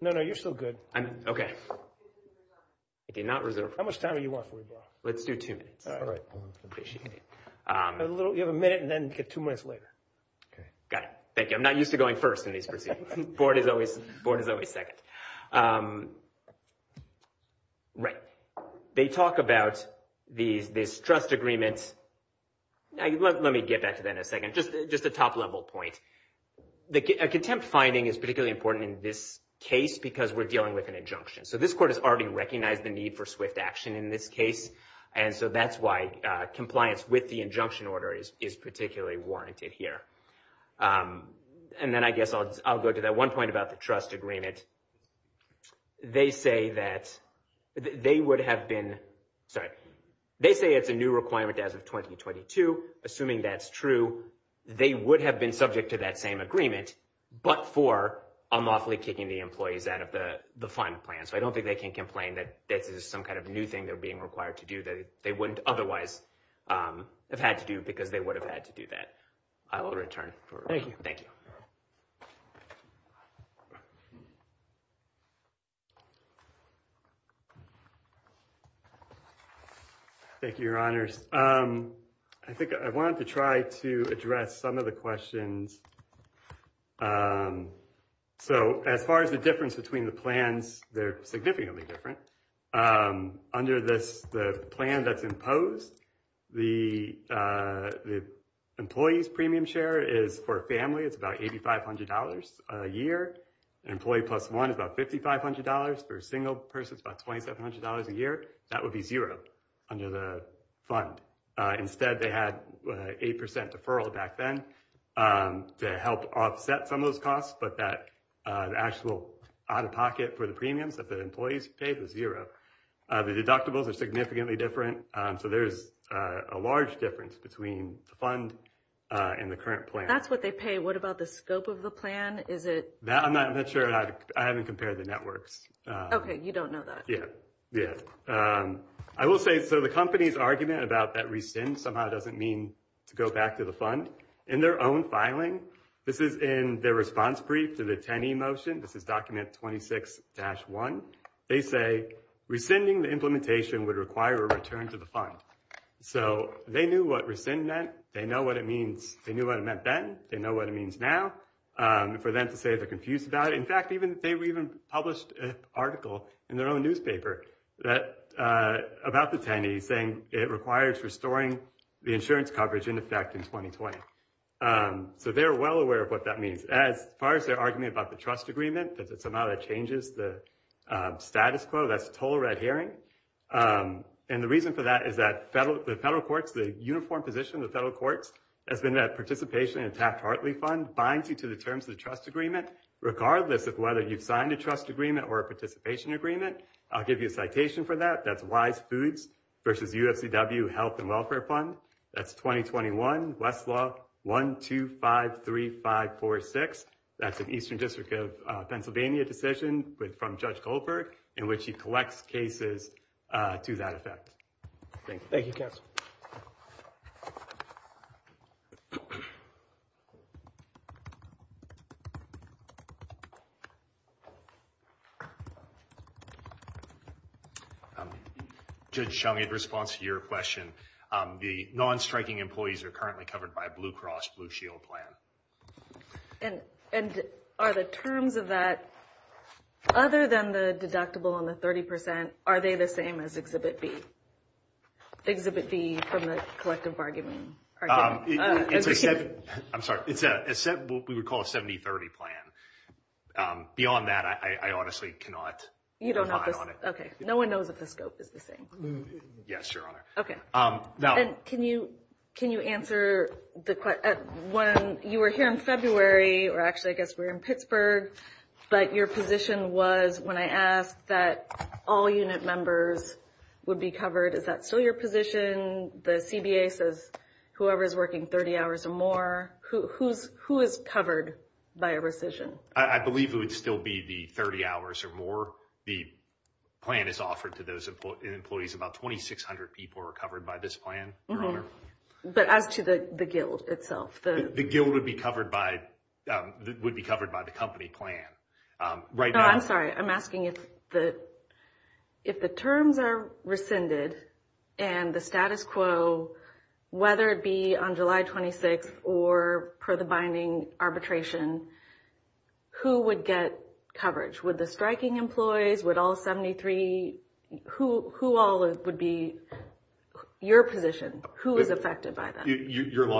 No, no, you're still good. I'm okay. I did not reserve. How much time do you want for rebuttal? Let's do two minutes. All right. Appreciate it. You have a minute and then get two minutes later. Okay. Got it. Thank you. I'm not used to going first in these proceedings. Board is always second. Right. They talk about this trust agreement. Let me get back to that in a second. Just a top level point. A contempt finding is particularly important in this case because we're dealing with an injunction. So this court has already recognized the need for swift action in this case. And so that's why compliance with the injunction order is particularly warranted here. And then I guess I'll go to that one point about the trust agreement. They say that they would have been, sorry. They say it's a new requirement as of 2022. Assuming that's true, they would have been subject to that same agreement, but for unlawfully kicking the employees out of the final plan. So I don't think they can complain that this is some kind of new being required to do that they wouldn't otherwise have had to do because they would have had to do that. I will return. Thank you. Thank you. Thank you, your honors. I think I wanted to try to address some of the questions. So as far as the difference between the plans, they're significantly different. Under this, the plan that's imposed, the employees premium share is for a family. It's about $8,500 a year. An employee plus one is about $5,500. For a single person, it's about $2,700 a year. That would be zero under the fund. Instead, they had 8% deferral back then to help offset some but that actual out-of-pocket for the premiums that the employees paid was zero. The deductibles are significantly different. So there's a large difference between the fund and the current plan. That's what they pay. What about the scope of the plan? I'm not sure. I haven't compared the networks. Okay. You don't know that. Yeah. Yeah. I will say, so the company's argument about that somehow doesn't mean to go back to the fund. In their own filing, this is in their response brief to the TENI motion. This is document 26-1. They say rescinding the implementation would require a return to the fund. So they knew what rescind meant. They knew what it meant then. They know what it means now. For them to say they're confused about it. In fact, they even published an article in their own newspaper about the TENI saying it requires restoring the insurance coverage in effect in 2020. So they're well aware of what that means. As far as their argument about the trust agreement, that somehow that changes the status quo, that's a total red herring. And the reason for that is that the federal courts, the uniform position of the federal courts has been that participation in a Taft-Hartley fund binds you to the terms of the trust agreement regardless of whether you've signed a trust agreement or a participation agreement. I'll give you a citation for that. That's Wise Foods versus UFCW Health and Welfare Fund. That's 2021 Westlaw 1253546. That's an Eastern District of Pennsylvania decision from Judge Goldberg in which he collects cases to that effect. Thank you. Thank you, counsel. Judge Chung, in response to your question, the non-striking employees are currently covered by Blue Cross Blue Shield plan. And are the terms of that, other than the deductible on the 30%, are they the same as Exhibit B? Exhibit B from the collective argument? I'm sorry. It's what we would call a 70-30 plan. Beyond that, I honestly cannot rely on it. Okay. No one knows if the scope is the same. Yes, Your Honor. Okay. And can you answer the question, when you were here in February, or actually I guess we were in Pittsburgh, but your position was when I asked that all unit members would be covered, is that still your position? The CBA says whoever is working 30 hours or more. Who is covered by a rescission? I believe it would still be the 30 hours or more. The plan is offered to those employees. About 2,600 people are covered by this plan, Your Honor. But as to the guild itself? The guild would be covered by the company plan. No, I'm sorry. I'm asking if the terms are rescinded and the status quo, whether it be on July 26th or per the binding arbitration, who would get coverage? Would the striking employees? Would all 73? Who all would be your position? Who is affected by that? Your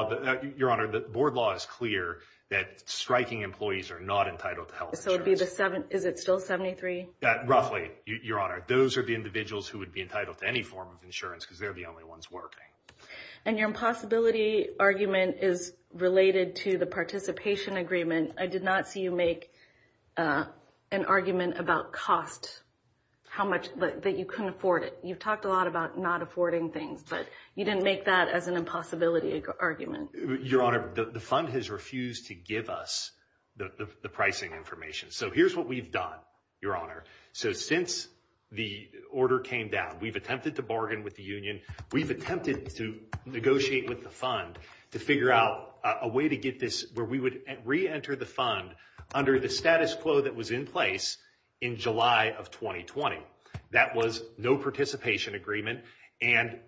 Honor, the board law is clear that striking employees are not entitled to health insurance. Is it still 73? Roughly, Your Honor. Those are the individuals who would be entitled to any form of insurance because they're the only ones working. And your impossibility argument is related to the participation agreement. I did not see you make an argument about cost, that you couldn't afford it. You've talked a lot about not affording things, but you didn't make that as an impossibility argument. Your Honor, the fund has refused to give us the pricing information. So here's what we've done, Your Honor. So since the order came down, we've attempted to bargain with the union. We've attempted to negotiate with the fund to figure out a way to get this where we would re-enter the fund under the status quo that was in place in July of 2020. That was no participation agreement and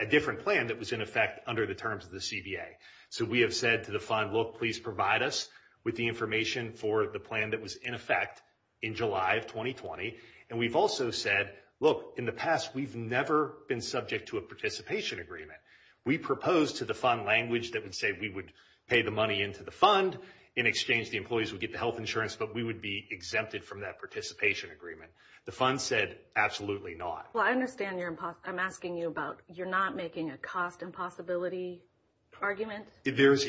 a different plan that was in under the terms of the CBA. So we have said to the fund, look, please provide us with the information for the plan that was in effect in July of 2020. And we've also said, look, in the past, we've never been subject to a participation agreement. We proposed to the fund language that would say we would pay the money into the fund. In exchange, the employees would get the health insurance, but we would be exempted from that participation agreement. The fund said, absolutely not. I understand. I'm asking you about you're not making a cost impossibility argument. There's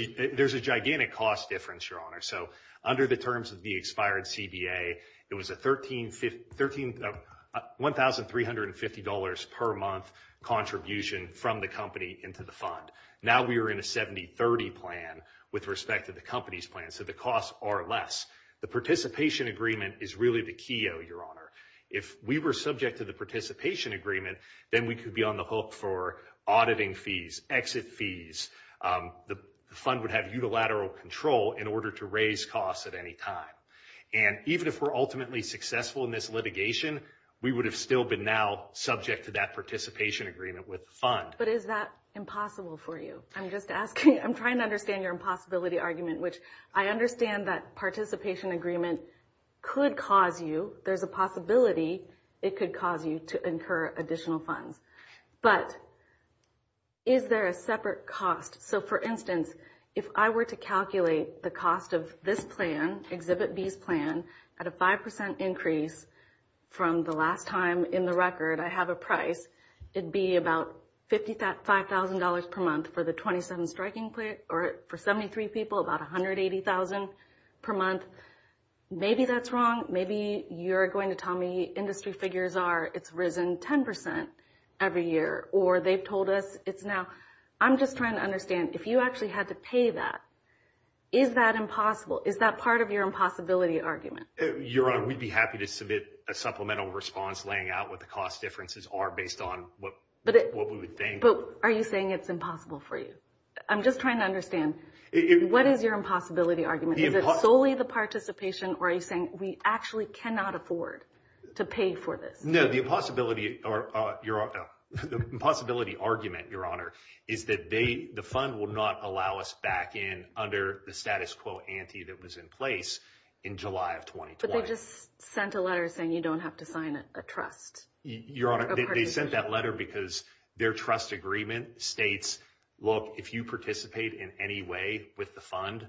a gigantic cost difference, Your Honor. So under the terms of the expired CBA, it was a $1,350 per month contribution from the company into the fund. Now we are in a 70-30 plan with respect to the company's plan. So the costs are less. The participation agreement is really a key, Your Honor. If we were subject to the participation agreement, then we could be on the hook for auditing fees, exit fees. The fund would have unilateral control in order to raise costs at any time. And even if we're ultimately successful in this litigation, we would have still been now subject to that participation agreement with the fund. But is that impossible for you? I'm just asking. I'm trying to understand your impossibility argument, which I understand that participation agreement could cause you, there's a possibility it could cause you to incur additional funds. But is there a separate cost? So for instance, if I were to calculate the cost of this plan, Exhibit B's plan, at a 5% increase from the last time in the record I have a price, it'd be about $55,000 per month for the 27 striking, or for 73 people, about $180,000 per month. Maybe that's wrong. Maybe you're going to tell me industry figures are it's risen 10% every year, or they've told us it's now. I'm just trying to understand if you actually had to pay that, is that impossible? Is that part of your impossibility argument? Your Honor, we'd be happy to submit a supplemental response laying out what the cost differences are based on what we would think. But are you saying it's impossible for you? I'm just trying to understand, what is your impossibility argument? Is it solely the participation, or are you saying we actually cannot afford to pay for this? No, the impossibility argument, Your Honor, is that the fund will not allow us back in under the status quo ante that was in place in July of 2020. But they just sent a letter saying you don't have to sign a trust. Your Honor, they sent that letter because their trust agreement states, look, if you participate in any way with the fund,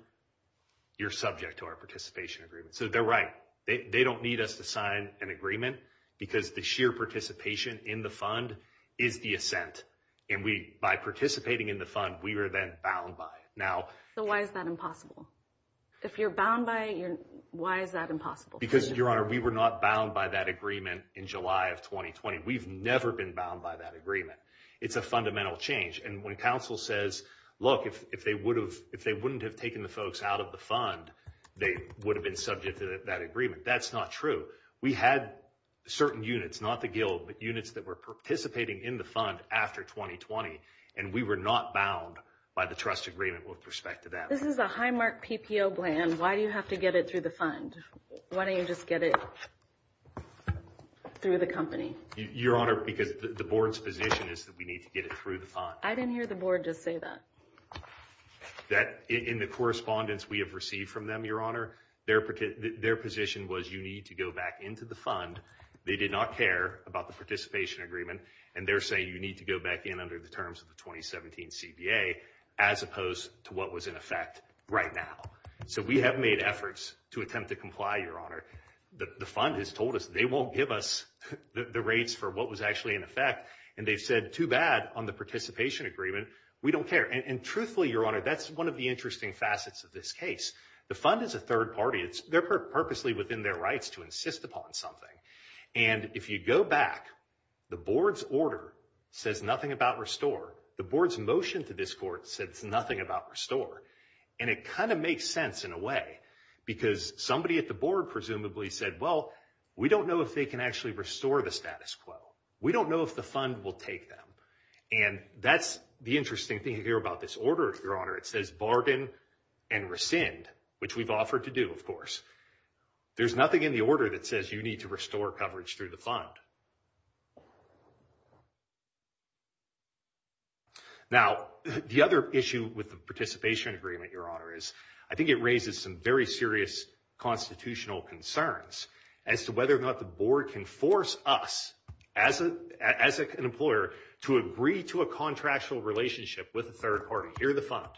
you're subject to our participation agreement. So they're right. They don't need us to sign an agreement because the sheer participation in the fund is the ascent. And by participating in the fund, we were then bound by it. So why is that impossible? If you're bound by it, why is that impossible? Because, Your Honor, we were not bound by that agreement in July of 2020. We've never been bound by that agreement. It's a fundamental change. And when counsel says, look, if they wouldn't have taken the folks out of the fund, they would have been subject to that agreement. That's not true. We had certain units, not the guild, but units that were participating in the fund after 2020, and we were not bound by the trust agreement with respect to that. This is a high-mark PPO plan. Why do you have to get it through the fund? Why don't you just get it through the company? Your Honor, because the board's position is that we need to get it through the fund. I didn't hear the board just say that. In the correspondence we have received from them, Your Honor, their position was you need to go back into the fund. They did not care about the participation agreement. And they're saying you need to go back in under the terms of the 2017 CBA as opposed to what was in effect right now. So we have made efforts to attempt to comply, Your Honor. The fund has told us they won't give us the rates for what was actually in effect, and they've said too bad on the participation agreement. We don't care. And truthfully, Your Honor, that's one of the interesting facets of this case. The fund is a third party. They're purposely within their rights to insist upon something. And if you go back, the board's order says nothing about restore. The board's motion to this court says nothing about restore. And it kind of makes sense in a way, because somebody at the board presumably said, well, we don't know if they can actually restore the status quo. We don't know if the fund will take them. And that's the interesting thing here about this order, Your Honor. It says bargain and rescind, which we've offered to do, of course. There's nothing in the order that says you need to restore coverage through the fund. Now, the other issue with the participation agreement, Your Honor, is I think it raises some very serious constitutional concerns as to whether or not the board can force us as an employer to agree to a contractual relationship with a third party. You're the fund.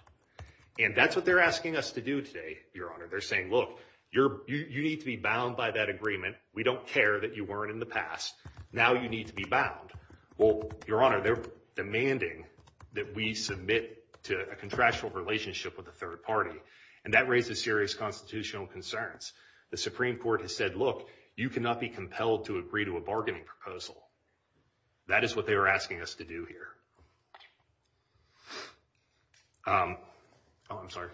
And that's what they're asking us to do today, Your Honor. They're saying, look, you need to be bound by that agreement. We don't care that you weren't in the past. Now you need to be bound. Well, Your Honor, they're demanding that we submit to a contractual relationship with a third party. And that raises serious constitutional concerns. The Supreme Court has said, look, you cannot be compelled to agree to a bargaining proposal. That is what they were asking us to do here. Oh, I'm sorry.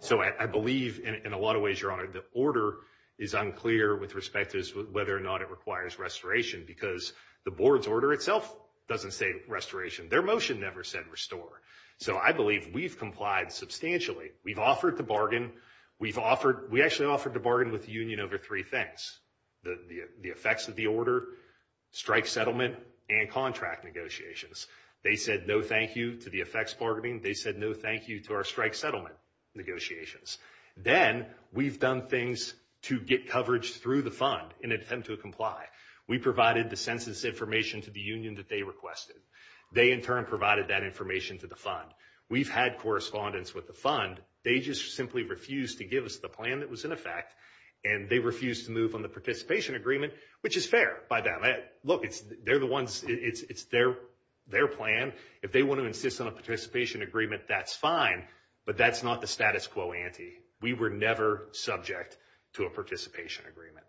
So I believe, in a lot of ways, Your Honor, the order is unclear with respect to whether or not it requires restoration, because the board's order itself doesn't say restoration. Their motion never said restore. So I believe we've complied substantially. We've offered to bargain. We've offered, we actually offered to bargain with the union over three things, the effects of the order, strike settlement, and contracting. They said no thank you to the effects bargaining. They said no thank you to our strike settlement negotiations. Then we've done things to get coverage through the fund in an attempt to comply. We provided the census information to the union that they requested. They, in turn, provided that information to the fund. We've had correspondence with the fund. They just simply refused to give us the plan that was in effect, and they refused to move on the their plan. If they want to insist on a participation agreement, that's fine, but that's not the status quo ante. We were never subject to a participation agreement.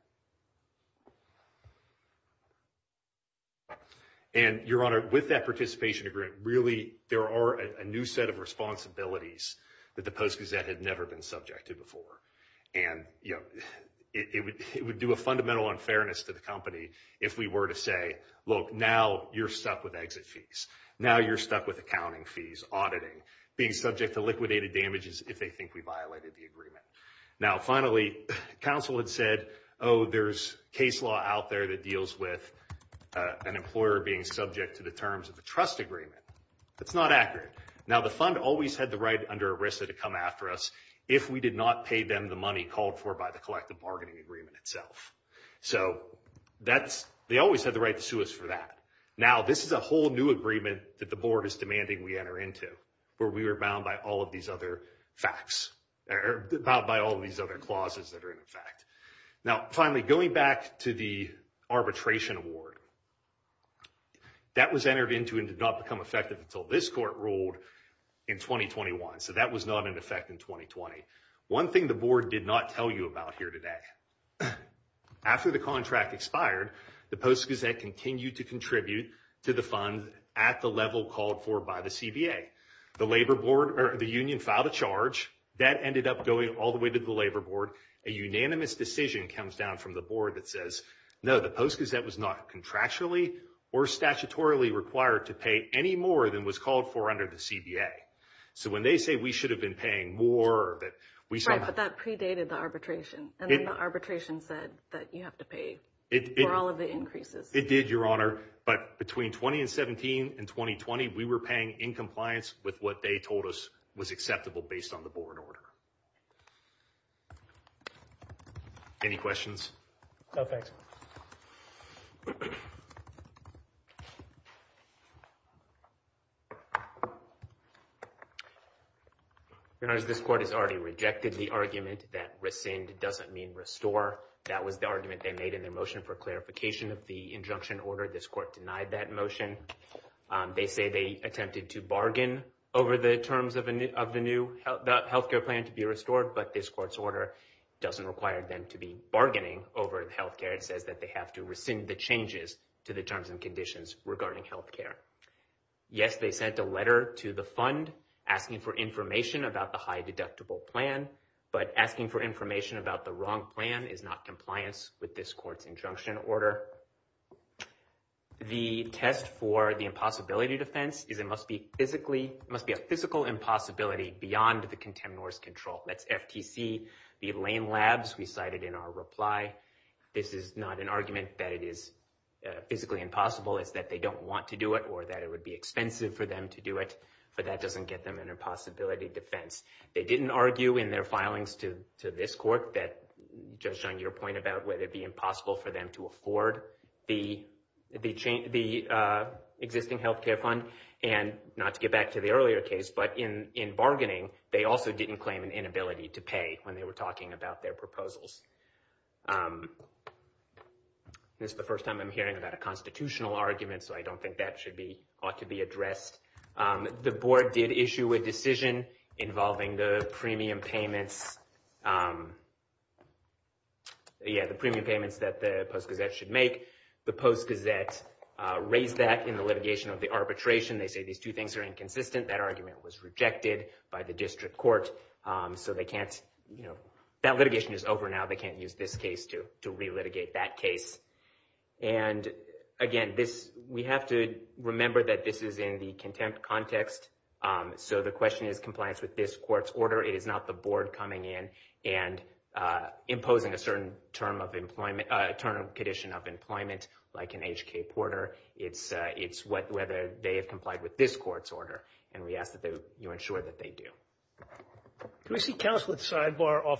And, Your Honor, with that participation agreement, really, there are a new set of responsibilities that the Post-Gazette had never been subject to before. And, you know, it would do a fundamental unfairness to the company if we were to say, look, now you're stuck with exit fees. Now you're stuck with accounting fees, auditing, being subject to liquidated damages if they think we violated the agreement. Now, finally, counsel had said, oh, there's case law out there that deals with an employer being subject to the terms of the trust agreement. That's not accurate. Now, the fund always had the right under ERISA to come after us if we did not pay them the money called for by the collective bargaining agreement itself. So that's, they always had the right to sue us for that. Now, this is a whole new agreement that the Board is demanding we enter into where we were bound by all of these other facts, or bound by all these other clauses that are in effect. Now, finally, going back to the arbitration award, that was entered into and did not become effective until this Court ruled in 2021. So that was not in effect in 2020. One thing the Board did not tell you about here today. After the contract expired, the Post-Gazette continued to contribute to the fund at the level called for by the CBA. The labor board, or the union, filed a charge. That ended up going all the way to the labor board. A unanimous decision comes down from the Board that says, no, the Post-Gazette was not contractually or statutorily required to pay any more than was called for under the CBA. So when they say we should have been paying more, that predated the arbitration, and the arbitration said that you have to pay for all of the increases. It did, Your Honor, but between 2017 and 2020, we were paying in compliance with what they told us was acceptable based on the Board order. Any questions? No, thanks. Your Honor, this Court has already rejected the argument that rescind doesn't mean restore. That was the argument they made in their motion for clarification of the injunction order. This Court denied that motion. They say they attempted to bargain over the terms of the new healthcare plan to be restored, but this Court's order doesn't require them to be bargaining over healthcare. It says that they have to rescind the changes to the terms and conditions regarding healthcare. Yes, they sent a letter to the Fund asking for information about the high-deductible plan, but asking for information about the wrong plan is not compliance with this Court's injunction order. The test for the impossibility defense is it must be a physical impossibility beyond the contemnor's control. That's FTC. The Lane Labs, we cited in our reply, this is not an argument that it is physically impossible. It's that they don't want to do it or that it would be expensive for them to do it, but that doesn't get them an impossibility defense. They didn't argue in their filings to this Court that, Judge Jung, your point about whether it'd be impossible for them to afford the existing healthcare fund, and not to get back to the earlier case, but in bargaining, they also didn't claim an inability to pay when they were talking about their proposals. This is the first time I'm hearing about a constitutional argument, so I don't think that should be, ought to be addressed. The Board did issue a decision involving the premium payments, yeah, the premium payments that the Post-Gazette should make. The Post-Gazette raised that in the litigation of the arbitration. They say these two things are inconsistent. That argument was rejected by the District Court, so they can't, you know, that litigation is over now. They can't use this case to relitigate that case. And again, this, we have to remember that this is in the contempt context, so the question is compliance with this Court's order. It is not the Board coming in and imposing a certain term of employment, term and condition of employment like in HK Porter. It's whether they have complied with this Court's order, and we ask that you ensure that they do. Can we see counsel at the sidebar off the record?